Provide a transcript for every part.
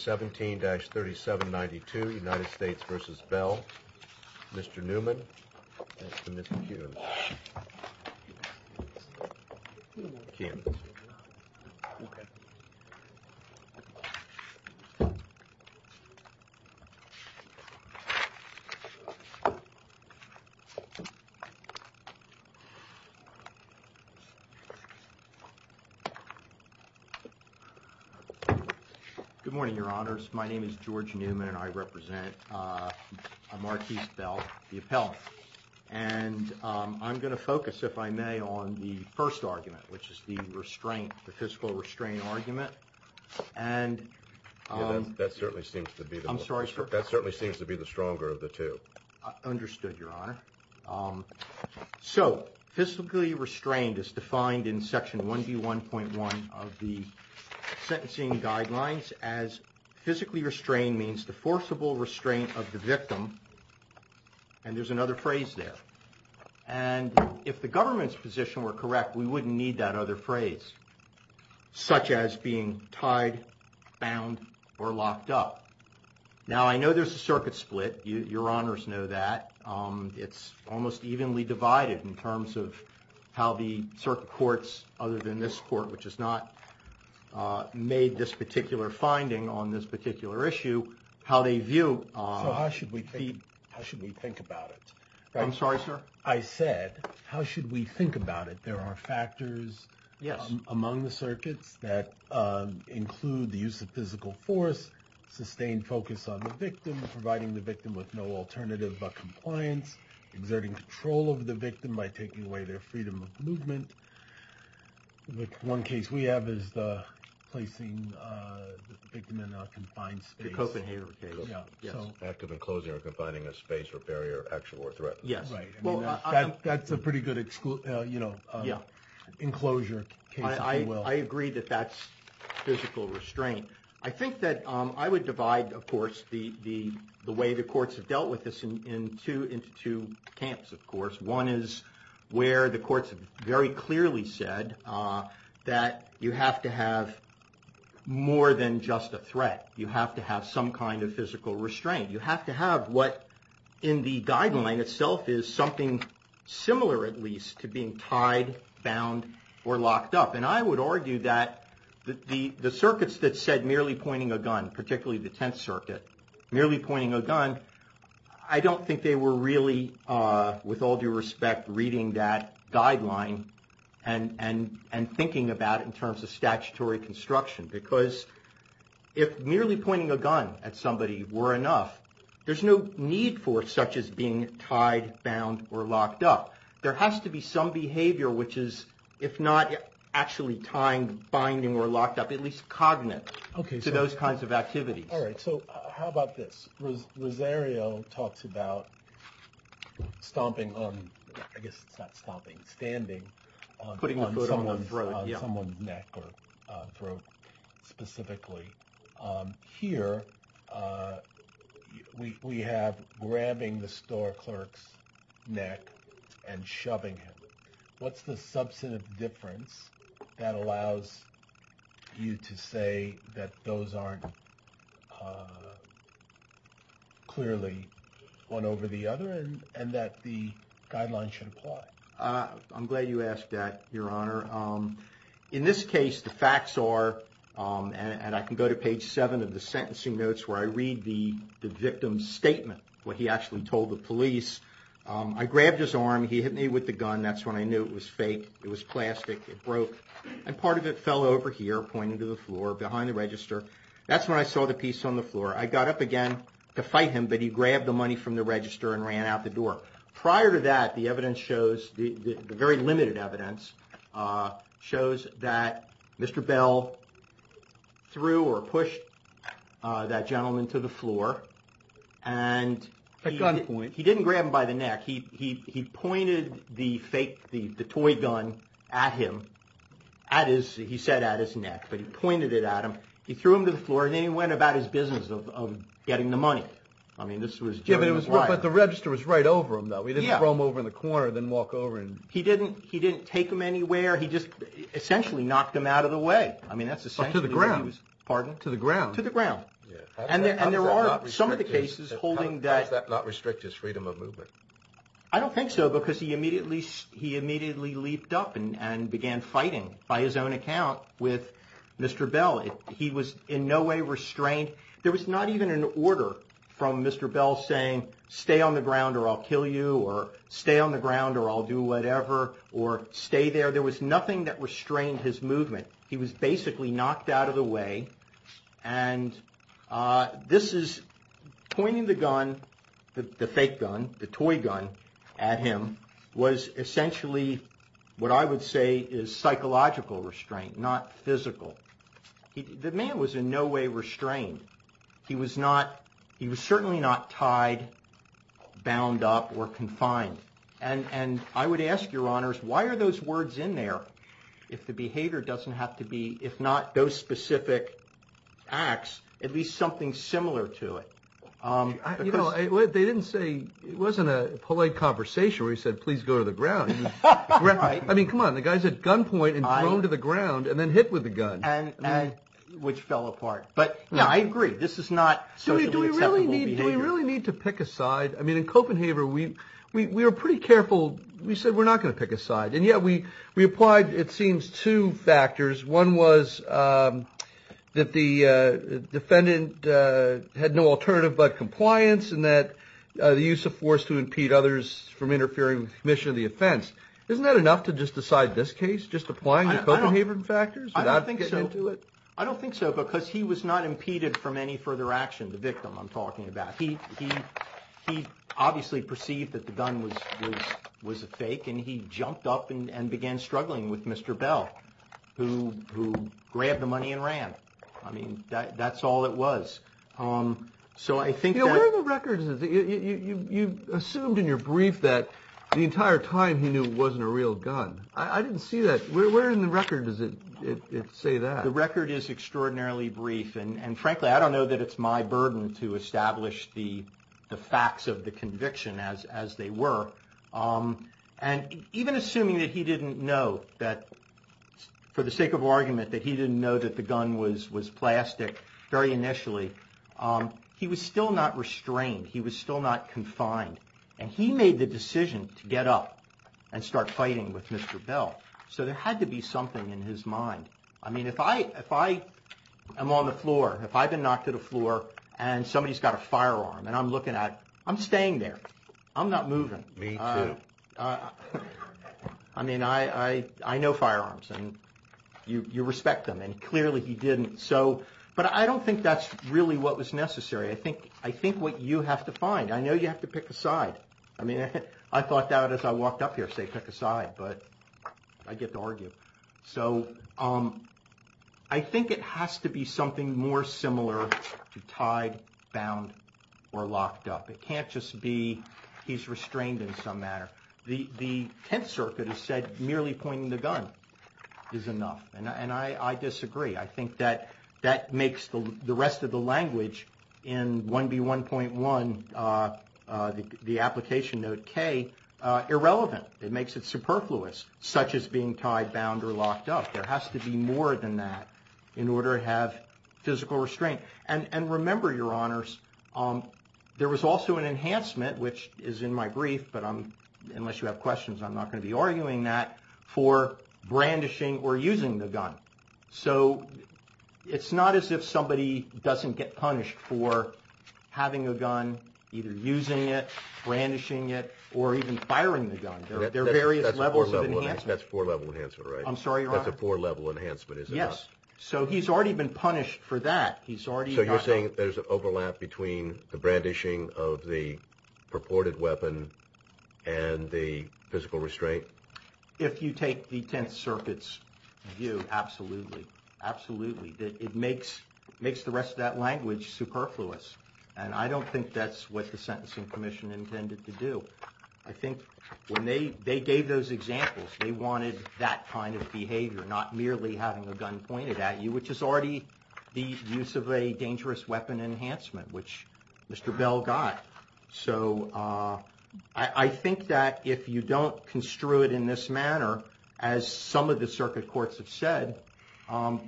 17-3792 United States v. Bell, Mr. Newman, and Mr. Kuhn. Good morning, your honors. My name is George Newman and I represent Marquis Bell, the appellant. And I'm going to focus, if I may, on the first argument, which is the restraint, the physical restraint argument. And that certainly seems to be the I'm sorry, sir. That certainly seems to be the stronger of the two. Understood, your honor. So physically restrained is defined in Section 1.1 of the sentencing guidelines as physically restrained means the forcible restraint of the victim. And there's another phrase there. And if the government's position were correct, we wouldn't need that other phrase, such as being tied, bound or locked up. Now, I know there's a circuit split. Your honors know that it's almost evenly divided in terms of how the circuit courts, other than this court, which has not made this particular finding on this particular issue, how they view. So how should we think? How should we think about it? I'm sorry, sir. I said, how should we think about it? There are factors. Yes. Among the circuits that include the use of physical force, sustained focus on the victim, providing the victim with no alternative but compliance, exerting control over the victim by taking away their freedom of movement. One case we have is the placing the victim in a confined space. The Copenhager case. Active enclosing or confining a space or barrier, action or threat. Yes. That's a pretty good enclosure case, if you will. I agree that that's physical restraint. I think that I would divide, of course, the way the courts have dealt with this into two camps, of course. One is where the courts have very clearly said that you have to have more than just a threat. You have to have some kind of physical restraint. You have to have what in the guideline itself is something similar, at least, to being tied, bound or locked up. And I would argue that the circuits that said merely pointing a gun, particularly the Tenth Circuit, merely pointing a gun, I don't think they were really, with all due respect, reading that guideline and thinking about it in terms of statutory construction. Because if merely pointing a gun at somebody were enough, there's no need for such as being tied, bound or locked up. There has to be some behavior which is, if not actually tying, binding or locked up, at least cognitive to those kinds of activities. All right. So how about this? Rosario talks about stomping on – I guess it's not stomping, standing on someone's neck or throat specifically. Here we have grabbing the store clerk's neck and shoving him. What's the substantive difference that allows you to say that those aren't clearly one over the other and that the guideline should apply? I'm glad you asked that, Your Honor. In this case, the facts are – and I can go to page 7 of the sentencing notes where I read the victim's statement, what he actually told the police. I grabbed his arm. He hit me with the gun. That's when I knew it was fake. It was plastic. It broke. And part of it fell over here, pointing to the floor behind the register. That's when I saw the piece on the floor. I got up again to fight him, but he grabbed the money from the register and ran out the door. Prior to that, the evidence shows – the very limited evidence shows that Mr. Bell threw or pushed that gentleman to the floor. A gun point. He didn't grab him by the neck. He pointed the toy gun at him. He said at his neck, but he pointed it at him. He threw him to the floor, and then he went about his business of getting the money. But the register was right over him, though. He didn't throw him over in the corner and then walk over. He didn't take him anywhere. He just essentially knocked him out of the way. To the ground. Pardon? To the ground. To the ground. How does that not restrict his freedom of movement? I don't think so, because he immediately leaped up and began fighting, by his own account, with Mr. Bell. He was in no way restrained. There was not even an order from Mr. Bell saying, stay on the ground or I'll kill you, or stay on the ground or I'll do whatever, or stay there. There was nothing that restrained his movement. He was basically knocked out of the way. And this is pointing the gun, the fake gun, the toy gun at him, was essentially what I would say is psychological restraint, not physical. The man was in no way restrained. He was not, he was certainly not tied, bound up or confined. And I would ask your honors, why are those words in there if the behavior doesn't have to be, if not those specific acts, at least something similar to it? You know, they didn't say, it wasn't a polite conversation where he said, please go to the ground. I mean, come on, the guy's at gunpoint and thrown to the ground and then hit with a gun. Which fell apart. But yeah, I agree, this is not socially acceptable behavior. Do we really need to pick a side? I mean, in Copenhaver, we were pretty careful. We said we're not going to pick a side. And yet we applied, it seems, two factors. One was that the defendant had no alternative but compliance and that the use of force to impede others from interfering with the mission of the offense. Isn't that enough to just decide this case, just applying the Copenhaver factors without getting into it? I don't think so. I don't think so because he was not impeded from any further action, the victim I'm talking about. He obviously perceived that the gun was a fake and he jumped up and began struggling with Mr. Bell, who grabbed the money and ran. I mean, that's all it was. So I think that... You know, where are the records? You assumed in your brief that the entire time he knew it wasn't a real gun. I didn't see that. Where in the record does it say that? The record is extraordinarily brief. And frankly, I don't know that it's my burden to establish the facts of the conviction as they were. And even assuming that he didn't know that, for the sake of argument, that he didn't know that the gun was plastic very initially, he was still not restrained. He was still not confined. And he made the decision to get up and start fighting with Mr. Bell. So there had to be something in his mind. I mean, if I am on the floor, if I've been knocked to the floor and somebody's got a firearm and I'm looking at... I'm staying there. I'm not moving. Me too. I mean, I know firearms and you respect them. And clearly he didn't. But I don't think that's really what was necessary. I think what you have to find, I know you have to pick a side. I mean, I thought that as I walked up here, say, pick a side, but I get to argue. So I think it has to be something more similar to tied, bound, or locked up. It can't just be he's restrained in some manner. The Tenth Circuit has said merely pointing the gun is enough. And I disagree. I think that that makes the rest of the language in 1B1.1, the application note K, irrelevant. It makes it superfluous, such as being tied, bound, or locked up. There has to be more than that in order to have physical restraint. And remember, Your Honors, there was also an enhancement, which is in my brief, but unless you have questions, I'm not going to be arguing that, for brandishing or using the gun. So it's not as if somebody doesn't get punished for having a gun, either using it, brandishing it, or even firing the gun. There are various levels of enhancement. That's a four-level enhancement, right? I'm sorry, Your Honor? That's a four-level enhancement, is it not? Yes. So he's already been punished for that. So you're saying there's an overlap between the brandishing of the purported weapon and the physical restraint? If you take the Tenth Circuit's view, absolutely. Absolutely. It makes the rest of that language superfluous. And I don't think that's what the Sentencing Commission intended to do. I think when they gave those examples, they wanted that kind of behavior, not merely having a gun pointed at you, which is already the use of a dangerous weapon enhancement, which Mr. Bell got. So I think that if you don't construe it in this manner, as some of the circuit courts have said,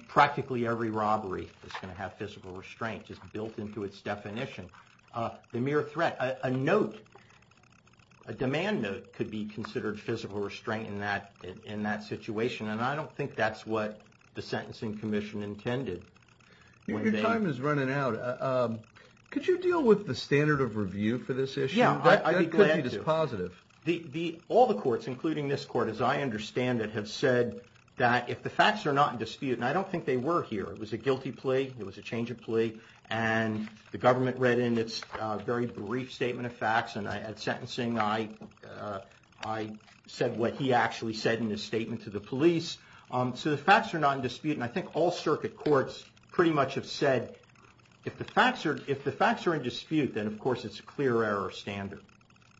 practically every robbery is going to have physical restraint. It's built into its definition. The mere threat, a note, a demand note could be considered physical restraint in that situation, and I don't think that's what the Sentencing Commission intended. Your time is running out. Could you deal with the standard of review for this issue? Yeah, I'd be glad to. That could be dispositive. All the courts, including this court, as I understand it, have said that if the facts are not in dispute, and I don't think they were here. It was a guilty plea. It was a change of plea. And the government read in its very brief statement of facts, and at sentencing, I said what he actually said in his statement to the police. So the facts are not in dispute, and I think all circuit courts pretty much have said if the facts are in dispute, then of course it's a clear error standard.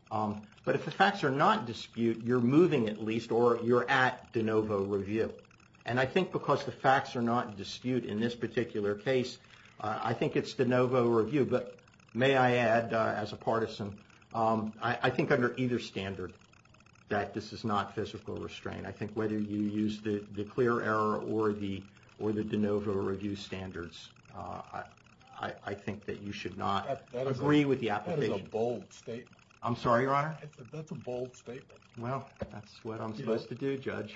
But if the facts are not in dispute, you're moving at least, or you're at de novo review. And I think because the facts are not in dispute in this particular case, I think it's de novo review. But may I add, as a partisan, I think under either standard that this is not physical restraint. I think whether you use the clear error or the de novo review standards, I think that you should not agree with the application. That is a bold statement. I'm sorry, Your Honor? That's a bold statement. Well, that's what I'm supposed to do, Judge.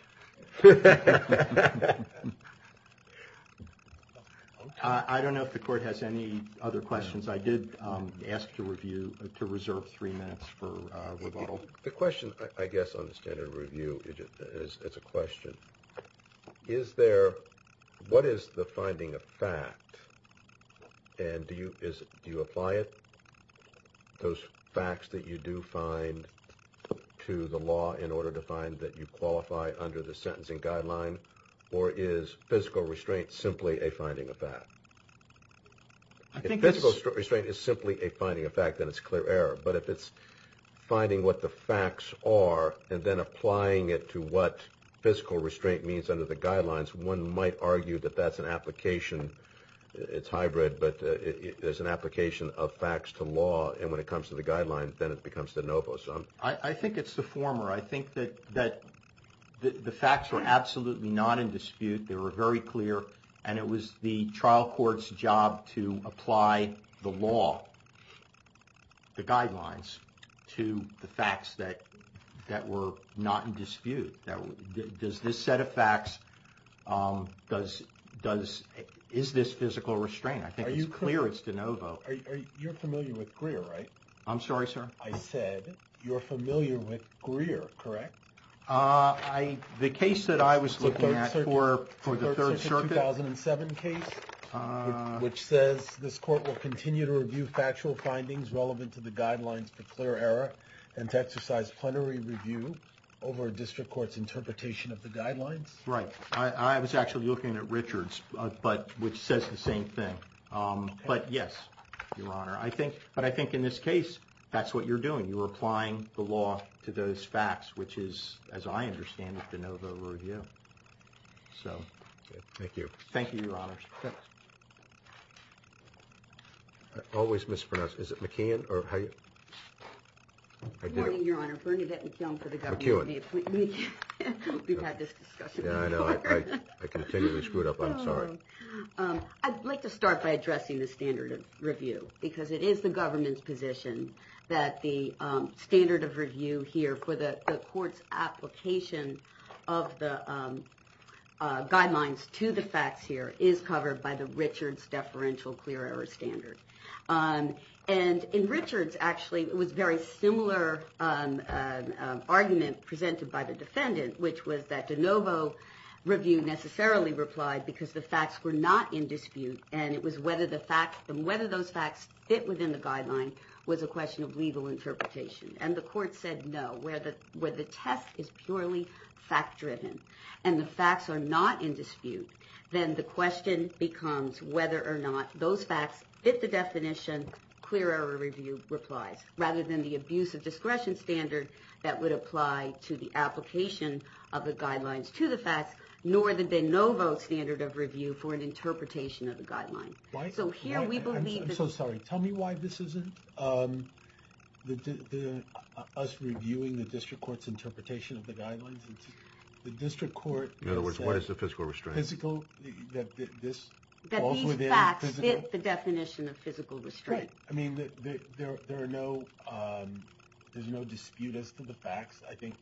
I don't know if the court has any other questions. I did ask to reserve three minutes for rebuttal. The question, I guess, on the standard review, it's a question. Is there, what is the finding of fact? And do you apply it, those facts that you do find, to the law in order to find that you qualify under the sentencing guideline? Or is physical restraint simply a finding of fact? If physical restraint is simply a finding of fact, then it's clear error. But if it's finding what the facts are and then applying it to what physical restraint means under the guidelines, one might argue that that's an application. It's hybrid, but there's an application of facts to law. And when it comes to the guidelines, then it becomes de novo. I think it's the former. I think that the facts were absolutely not in dispute. They were very clear. And it was the trial court's job to apply the law, the guidelines, to the facts that were not in dispute. Does this set of facts, is this physical restraint? I think it's clear it's de novo. You're familiar with Greer, right? I'm sorry, sir? I said you're familiar with Greer, correct? The case that I was looking at for the Third Circuit. The Third Circuit 2007 case, which says this court will continue to review factual findings relevant to the guidelines for clear error and to exercise plenary review over a district court's interpretation of the guidelines? Right. I was actually looking at Richards, which says the same thing. But yes, Your Honor. But I think in this case, that's what you're doing. You're applying the law to those facts, which is, as I understand it, de novo review. Thank you. Thank you, Your Honor. I always mispronounce. Is it McKeown? Good morning, Your Honor. Bernadette McKeown for the government. McKeown. We've had this discussion before. I know. I continually screw it up. I'm sorry. I'd like to start by addressing the standard of review. Because it is the government's position that the standard of review here for the court's application of the guidelines to the facts here is covered by the Richards deferential clear error standard. And in Richards, actually, it was a very similar argument presented by the defendant, which was that de novo review necessarily replied because the facts were not in dispute. And it was whether those facts fit within the guideline was a question of legal interpretation. And the court said no. Where the test is purely fact-driven and the facts are not in dispute, then the question becomes whether or not those facts fit the definition, rather than the abuse of discretion standard that would apply to the application of the guidelines to the facts, nor the de novo standard of review for an interpretation of the guideline. I'm so sorry. Tell me why this isn't us reviewing the district court's interpretation of the guidelines. The district court. In other words, what is the fiscal restraint? That this falls within the physical? That these facts fit the definition of physical restraint. Right. I mean, there's no dispute as to the facts. I think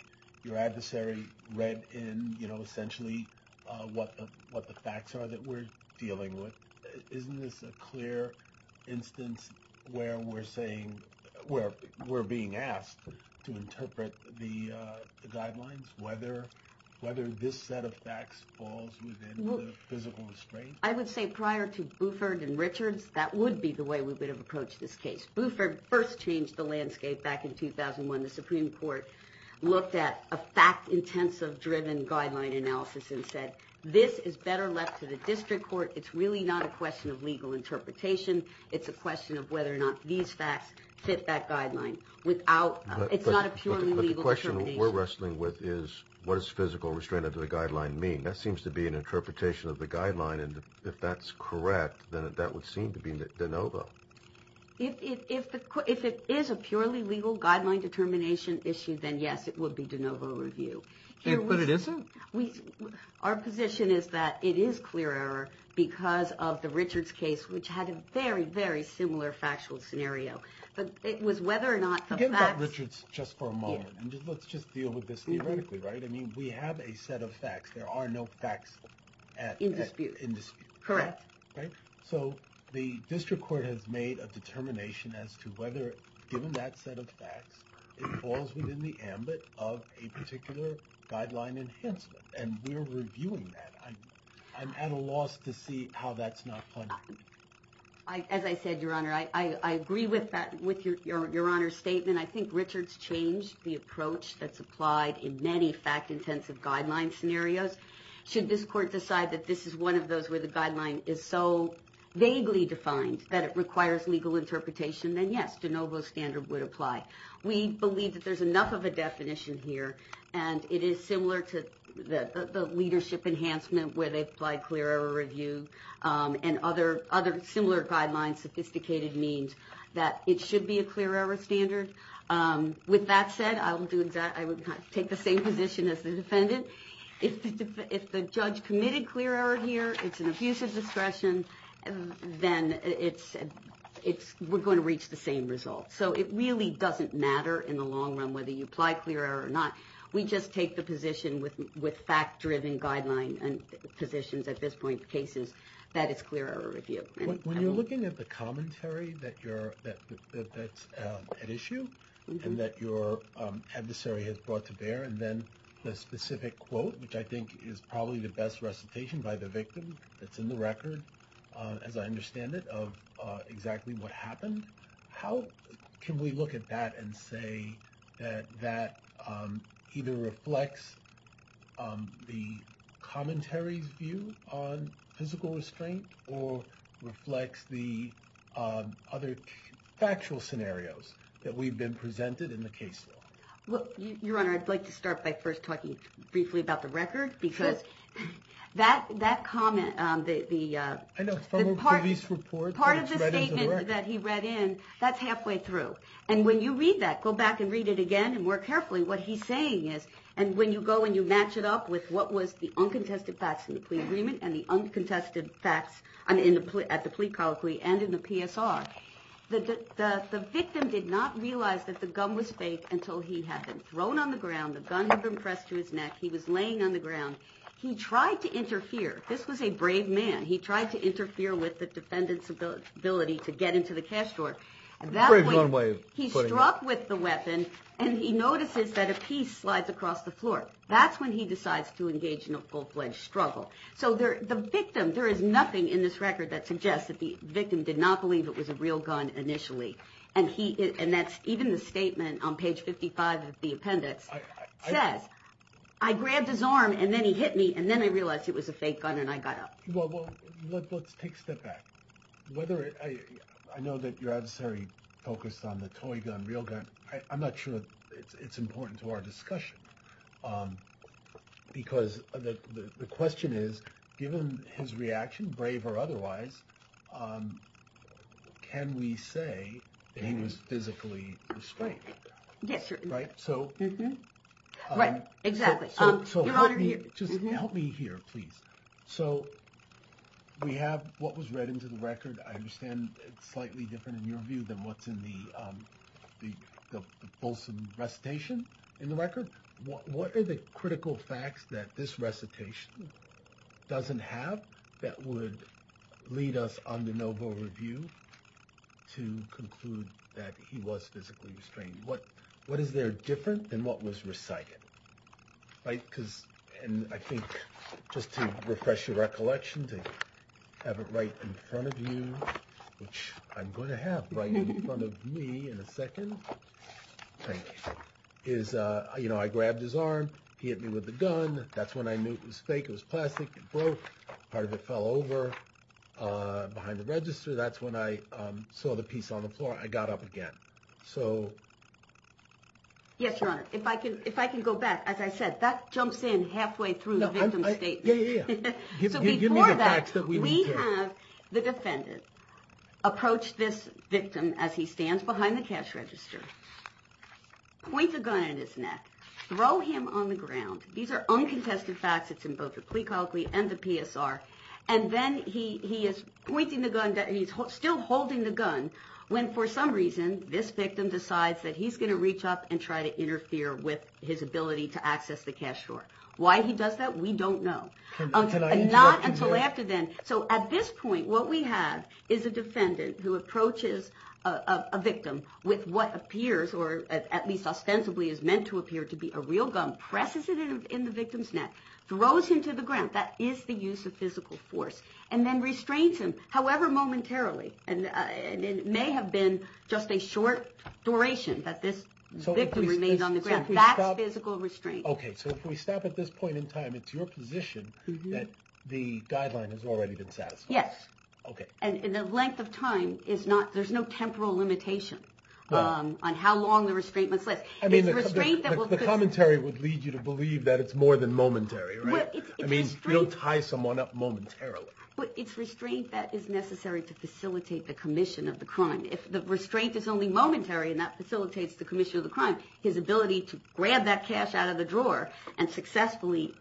your adversary read in, you know, essentially what the facts are that we're dealing with. Isn't this a clear instance where we're being asked to interpret the guidelines, whether this set of facts falls within the physical restraint? I would say prior to Buford and Richards, that would be the way we would have approached this case. Buford first changed the landscape back in 2001. The Supreme Court looked at a fact-intensive-driven guideline analysis and said, this is better left to the district court. It's really not a question of legal interpretation. It's a question of whether or not these facts fit that guideline. It's not a purely legal determination. But the question we're wrestling with is, what does physical restraint of the guideline mean? That seems to be an interpretation of the guideline, and if that's correct, then that would seem to be de novo. If it is a purely legal guideline determination issue, then, yes, it would be de novo review. But it isn't? Our position is that it is clear error because of the Richards case, which had a very, very similar factual scenario. But it was whether or not the facts- Let's talk about Richards just for a moment. Let's just deal with this theoretically, right? I mean, we have a set of facts. There are no facts at- In dispute. In dispute. Correct. So, the district court has made a determination as to whether, given that set of facts, it falls within the ambit of a particular guideline enhancement. And we're reviewing that. I'm at a loss to see how that's not funded. As I said, Your Honor, I agree with Your Honor's statement. I think Richards changed the approach that's applied in many fact-intensive guideline scenarios. Should this court decide that this is one of those where the guideline is so vaguely defined that it requires legal interpretation, then, yes, de novo standard would apply. We believe that there's enough of a definition here. And it is similar to the leadership enhancement where they applied clear error review and other similar guidelines, sophisticated means, that it should be a clear error standard. With that said, I will take the same position as the defendant. If the judge committed clear error here, it's an abuse of discretion, then we're going to reach the same result. So, it really doesn't matter in the long run whether you apply clear error or not. We just take the position with fact-driven guideline positions at this point of cases that it's clear error review. When you're looking at the commentary that's at issue and that your adversary has brought to bear, and then the specific quote, which I think is probably the best recitation by the victim that's in the record, as I understand it, of exactly what happened, how can we look at that and say that that either reflects the commentary's view on physical restraint or reflects the other factual scenarios that we've been presented in the case law? Your Honor, I'd like to start by first talking briefly about the record, because that comment, the part of the statement that he read in, that's halfway through. And when you read that, go back and read it again and more carefully, what he's saying is, and when you go and you match it up with what was the uncontested facts in the plea agreement and the uncontested facts at the plea colloquy and in the PSR, the victim did not realize that the gun was fake until he had been thrown on the ground, the gun had been pressed to his neck, he was laying on the ground. He tried to interfere. This was a brave man. He tried to interfere with the defendant's ability to get into the cash drawer. He struck with the weapon, and he notices that a piece slides across the floor. That's when he decides to engage in a full-fledged struggle. So the victim, there is nothing in this record that suggests that the victim did not believe it was a real gun initially. And even the statement on page 55 of the appendix says, I grabbed his arm, and then he hit me, and then I realized it was a fake gun, and I got up. Well, let's take a step back. I know that your adversary focused on the toy gun, real gun. I'm not sure it's important to our discussion, because the question is, given his reaction, brave or otherwise, can we say that he was physically restrained? Right. Yes, sir. Right? So... Right. Exactly. Your Honor, here. So we have what was read into the record. I understand it's slightly different in your view than what's in the Folsom recitation in the record. What are the critical facts that this recitation doesn't have that would lead us on the Novo review to conclude that he was physically restrained? What is there different than what was recited? Right? And I think, just to refresh your recollection, to have it right in front of you, which I'm going to have right in front of me in a second, is, you know, I grabbed his arm. He hit me with the gun. That's when I knew it was fake. It was plastic. It broke. Part of it fell over behind the register. That's when I saw the piece on the floor. I got up again. So... Yes, Your Honor. If I can go back, as I said, that jumps in halfway through the victim statement. Yeah, yeah, yeah. So before that, we have the defendant approach this victim as he stands behind the cash register, point the gun at his neck, throw him on the ground. These are uncontested facts. It's in both the plea colloquy and the PSR. And then he is pointing the gun. He's still holding the gun when, for some reason, this victim decides that he's going to reach up and try to interfere with his ability to access the cash store. Why he does that, we don't know. Not until after then. So at this point, what we have is a defendant who approaches a victim with what appears, or at least ostensibly is meant to appear to be a real gun, presses it in the victim's neck, throws him to the ground. That is the use of physical force. And then restrains him, however momentarily. And it may have been just a short duration that this victim remains on the ground. That's physical restraint. And it's your position that the guideline has already been satisfied. Yes. Okay. And the length of time is not, there's no temporal limitation on how long the restraint must last. I mean, the commentary would lead you to believe that it's more than momentary, right? I mean, you don't tie someone up momentarily. It's restraint that is necessary to facilitate the commission of the crime. If the restraint is only momentary and that facilitates the commission of the crime, his ability to grab that cash out of the drawer and successfully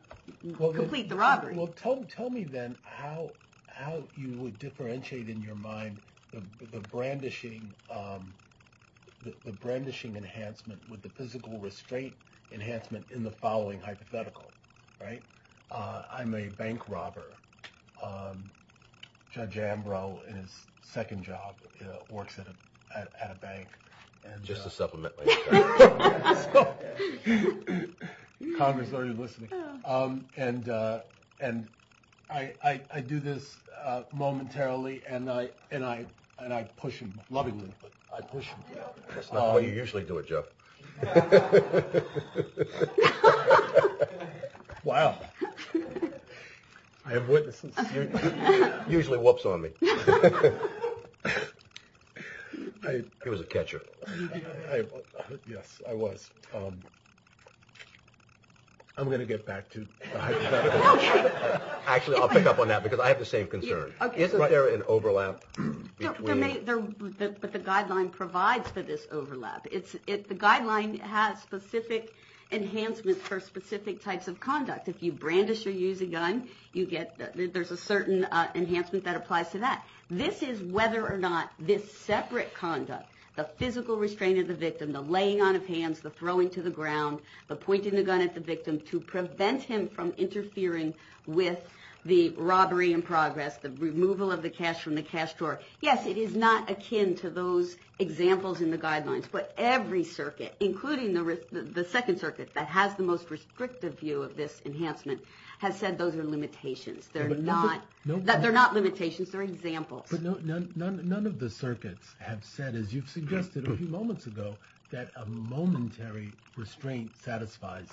complete the robbery. Well, tell me then how you would differentiate in your mind the brandishing enhancement with the physical restraint enhancement in the following hypothetical, right? I'm a bank robber. Judge Ambrose in his second job works at a bank. Just a supplement. Congress already listening. And I do this momentarily and I push him lovingly. That's not how you usually do it, Joe. Wow. I have witnesses. Usually whoops on me. He was a catcher. Yes, I was. I'm going to get back to. Actually, I'll pick up on that because I have the same concern. Isn't there an overlap? But the guideline provides for this overlap. The guideline has specific enhancements for specific types of conduct. If you brandish or use a gun, you get, there's a certain enhancement that applies to that. This is whether or not this separate conduct, the physical restraint of the victim, the laying on of hands, the throwing to the ground, the pointing the gun at the victim to prevent him from interfering with the robbery in progress, the removal of the cash from the cash drawer. Yes, it is not akin to those examples in the guidelines. But every circuit, including the second circuit that has the most restrictive view of this enhancement, has said those are limitations. They're not limitations, they're examples. But none of the circuits have said, as you've suggested a few moments ago, that a momentary restraint satisfies.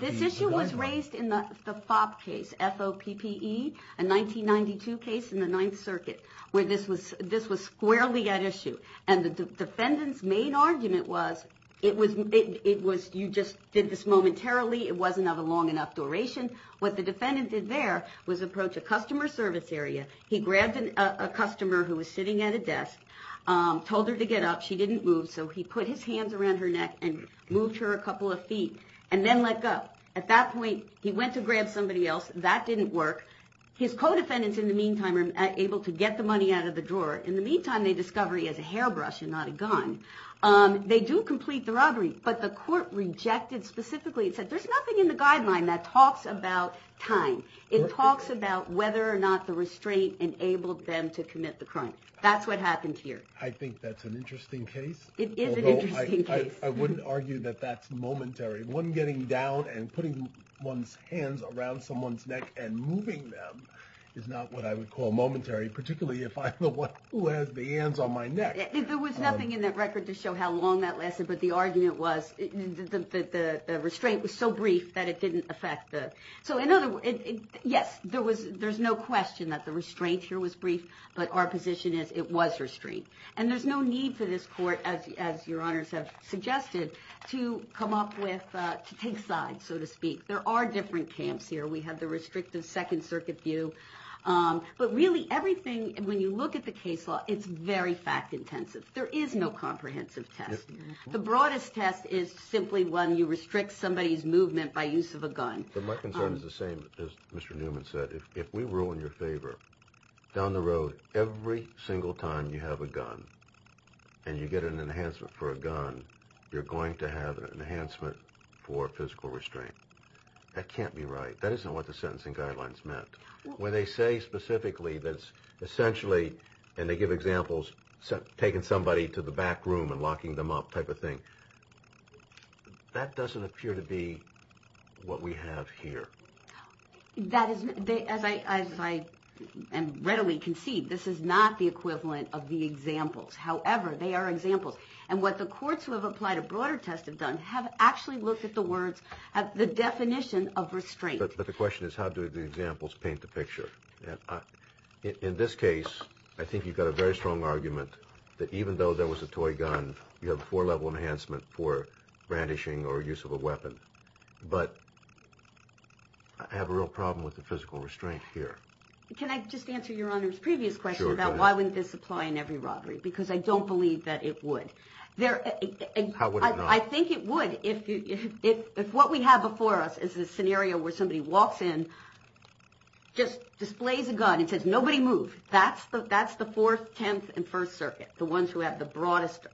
This issue was raised in the FOB case, F-O-P-P-E, a 1992 case in the Ninth Circuit, where this was squarely at issue. And the defendant's main argument was, you just did this momentarily, it wasn't of a long enough duration. What the defendant did there was approach a customer service area. He grabbed a customer who was sitting at a desk, told her to get up. She didn't move, so he put his hands around her neck and moved her a couple of feet, and then let go. At that point, he went to grab somebody else. That didn't work. His co-defendants, in the meantime, were able to get the money out of the drawer. In the meantime, they discover he has a hairbrush and not a gun. They do complete the robbery. But the court rejected specifically and said, there's nothing in the guideline that talks about time. It talks about whether or not the restraint enabled them to commit the crime. That's what happened here. I think that's an interesting case. It is an interesting case. I wouldn't argue that that's momentary. One getting down and putting one's hands around someone's neck and moving them is not what I would call momentary, particularly if I'm the one who has the hands on my neck. There was nothing in that record to show how long that lasted. But the argument was that the restraint was so brief that it didn't affect the… Yes, there's no question that the restraint here was brief, but our position is it was restraint. And there's no need for this court, as your honors have suggested, to take sides, so to speak. There are different camps here. We have the restrictive Second Circuit view. But really, everything, when you look at the case law, it's very fact-intensive. There is no comprehensive test. The broadest test is simply when you restrict somebody's movement by use of a gun. But my concern is the same as Mr. Newman said. If we rule in your favor, down the road, every single time you have a gun and you get an enhancement for a gun, you're going to have an enhancement for physical restraint. That can't be right. That isn't what the sentencing guidelines meant. When they say specifically that it's essentially, and they give examples, taking somebody to the back room and locking them up type of thing, that doesn't appear to be what we have here. As I readily concede, this is not the equivalent of the examples. However, they are examples. And what the courts who have applied a broader test have done have actually looked at the definition of restraint. But the question is how do the examples paint the picture? In this case, I think you've got a very strong argument that even though there was a toy gun, you have a four-level enhancement for brandishing or use of a weapon. But I have a real problem with the physical restraint here. Can I just answer Your Honor's previous question about why wouldn't this apply in every robbery? Because I don't believe that it would. How would you not? I think it would if what we have before us is a scenario where somebody walks in, just displays a gun and says, nobody move. That's the Fourth, Tenth, and First Circuit, the ones who have the broadest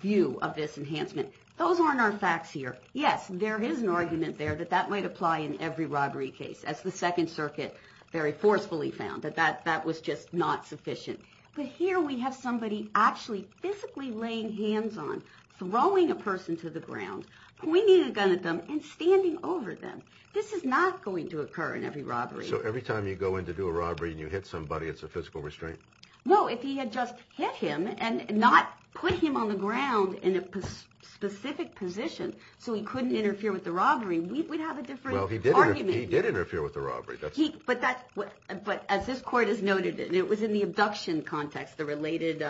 view of this enhancement. Those aren't our facts here. Yes, there is an argument there that that might apply in every robbery case, as the Second Circuit very forcefully found, that that was just not sufficient. But here we have somebody actually physically laying hands on, throwing a person to the ground, pointing a gun at them, and standing over them. This is not going to occur in every robbery. So every time you go in to do a robbery and you hit somebody, it's a physical restraint? No, if he had just hit him and not put him on the ground in a specific position so he couldn't interfere with the robbery, we'd have a different argument. Well, he did interfere with the robbery. But as this court has noted, it was in the abduction context, the related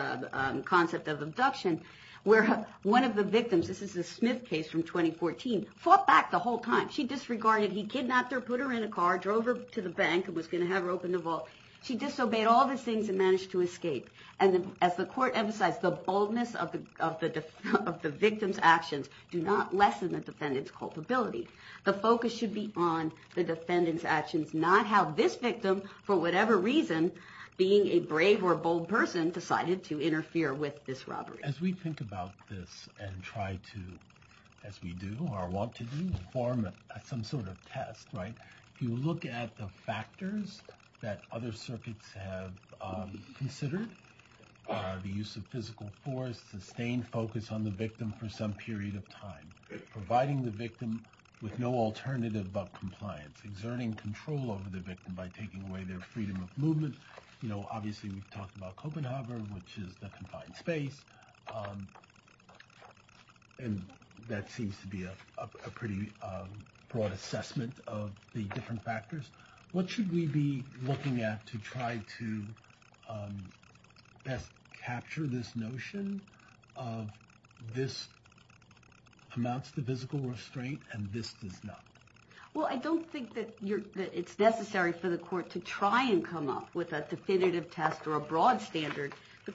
concept of abduction, where one of the victims, this is a Smith case from 2014, fought back the whole time. She disregarded. He kidnapped her, put her in a car, drove her to the bank and was going to have her open the vault. She disobeyed all the things and managed to escape. And as the court emphasized, the boldness of the victim's actions do not lessen the defendant's culpability. The focus should be on the defendant's actions, not how this victim, for whatever reason, being a brave or bold person, decided to interfere with this robbery. As we think about this and try to, as we do or want to do, form some sort of test, right, if you look at the factors that other circuits have considered, the use of physical force, sustained focus on the victim for some period of time, providing the victim with no alternative but compliance, exerting control over the victim by taking away their freedom of movement. You know, obviously, we've talked about Copenhagen, which is the confined space. And that seems to be a pretty broad assessment of the different factors. What should we be looking at to try to best capture this notion of this amounts to physical restraint and this does not? Well, I don't think that it's necessary for the court to try and come up with a definitive test or a broad standard. The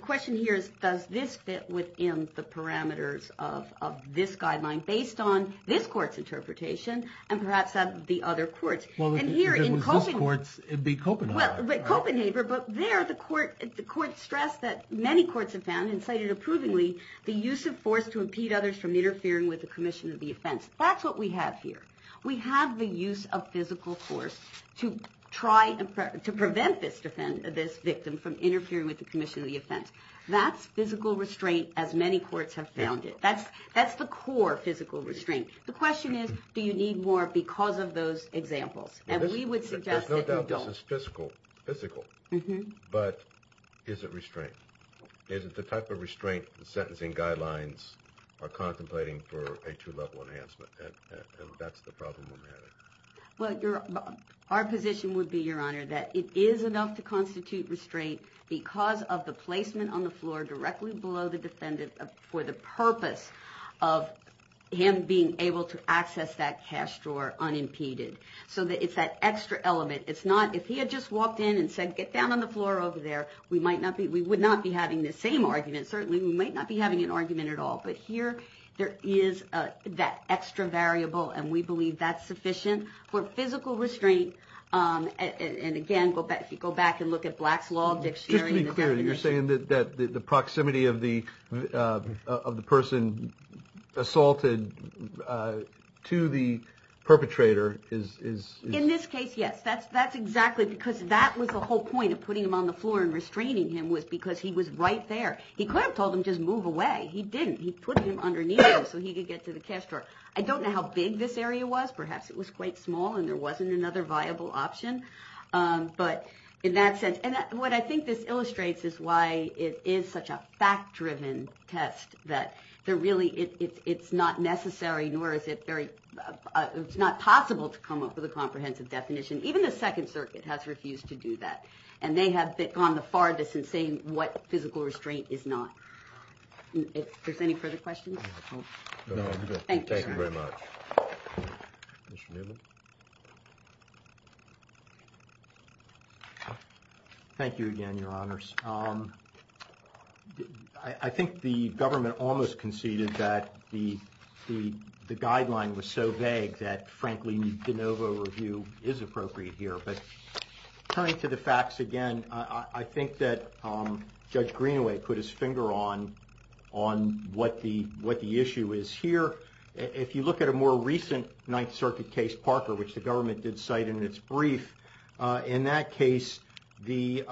question here is, does this fit within the parameters of this guideline, based on this court's interpretation and perhaps of the other courts? Well, if it was this court's, it would be Copenhagen. Well, Copenhagen, but there the court stressed that many courts have found, and cited approvingly, the use of force to impede others from interfering with the commission of the offense. That's what we have here. We have the use of physical force to try to prevent this victim from interfering with the commission of the offense. That's physical restraint as many courts have found it. That's the core physical restraint. The question is, do you need more because of those examples? And we would suggest that you don't. There's no doubt this is physical, but is it restraint? Is it the type of restraint the sentencing guidelines are contemplating for a two-level enhancement? And that's the problem we're having. Well, our position would be, Your Honor, that it is enough to constitute restraint because of the placement on the floor directly below the defendant for the purpose of him being able to access that cash drawer unimpeded. So it's that extra element. If he had just walked in and said, Get down on the floor over there, we would not be having the same argument. Certainly, we might not be having an argument at all, but here there is that extra variable, and we believe that's sufficient for physical restraint. And again, if you go back and look at Black's Law Dictionary... Just to be clear, you're saying that the proximity of the person assaulted to the perpetrator is... In this case, yes. That's exactly because that was the whole point of putting him on the floor and restraining him was because he was right there. He could have told him just move away. He didn't. He put him underneath him so he could get to the cash drawer. I don't know how big this area was. Perhaps it was quite small and there wasn't another viable option. But in that sense... And what I think this illustrates is why it is such a fact-driven test that there really... It's not necessary, nor is it very... It's not possible to come up with a comprehensive definition. Even the Second Circuit has refused to do that, and they have gone the farthest in saying what physical restraint is not. If there's any further questions... Thank you, sir. Thank you very much. Commissioner Newlin. Thank you again, Your Honors. I think the government almost conceded that the guideline was so vague that, frankly, de novo review is appropriate here. But turning to the facts again, I think that Judge Greenaway put his finger on what the issue is here. If you look at a more recent Ninth Circuit case, Parker, which the government did cite in its brief, in that case the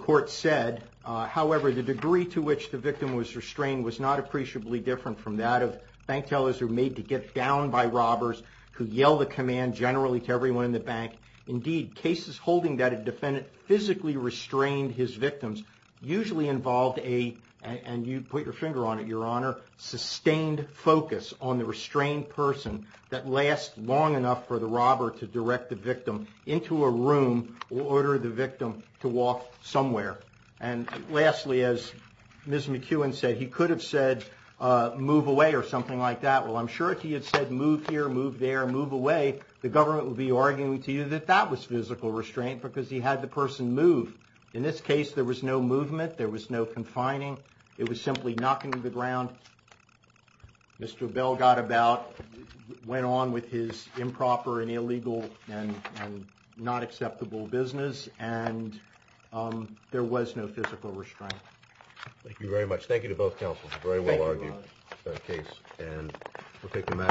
court said, however, the degree to which the victim was restrained was not appreciably different from that of bank tellers who are made to get down by robbers, who yell the command generally to everyone in the bank. Indeed, cases holding that a defendant physically restrained his victims usually involved a... on the restrained person that lasts long enough for the robber to direct the victim into a room or order the victim to walk somewhere. And lastly, as Ms. McEwen said, he could have said move away or something like that. Well, I'm sure if he had said move here, move there, move away, the government would be arguing to you that that was physical restraint because he had the person move. In this case, there was no movement. There was no confining. It was simply knocking to the ground. Mr. Bell got about, went on with his improper and illegal and not acceptable business, and there was no physical restraint. Thank you very much. Thank you to both counsels. Very well argued case. And we'll take the matter.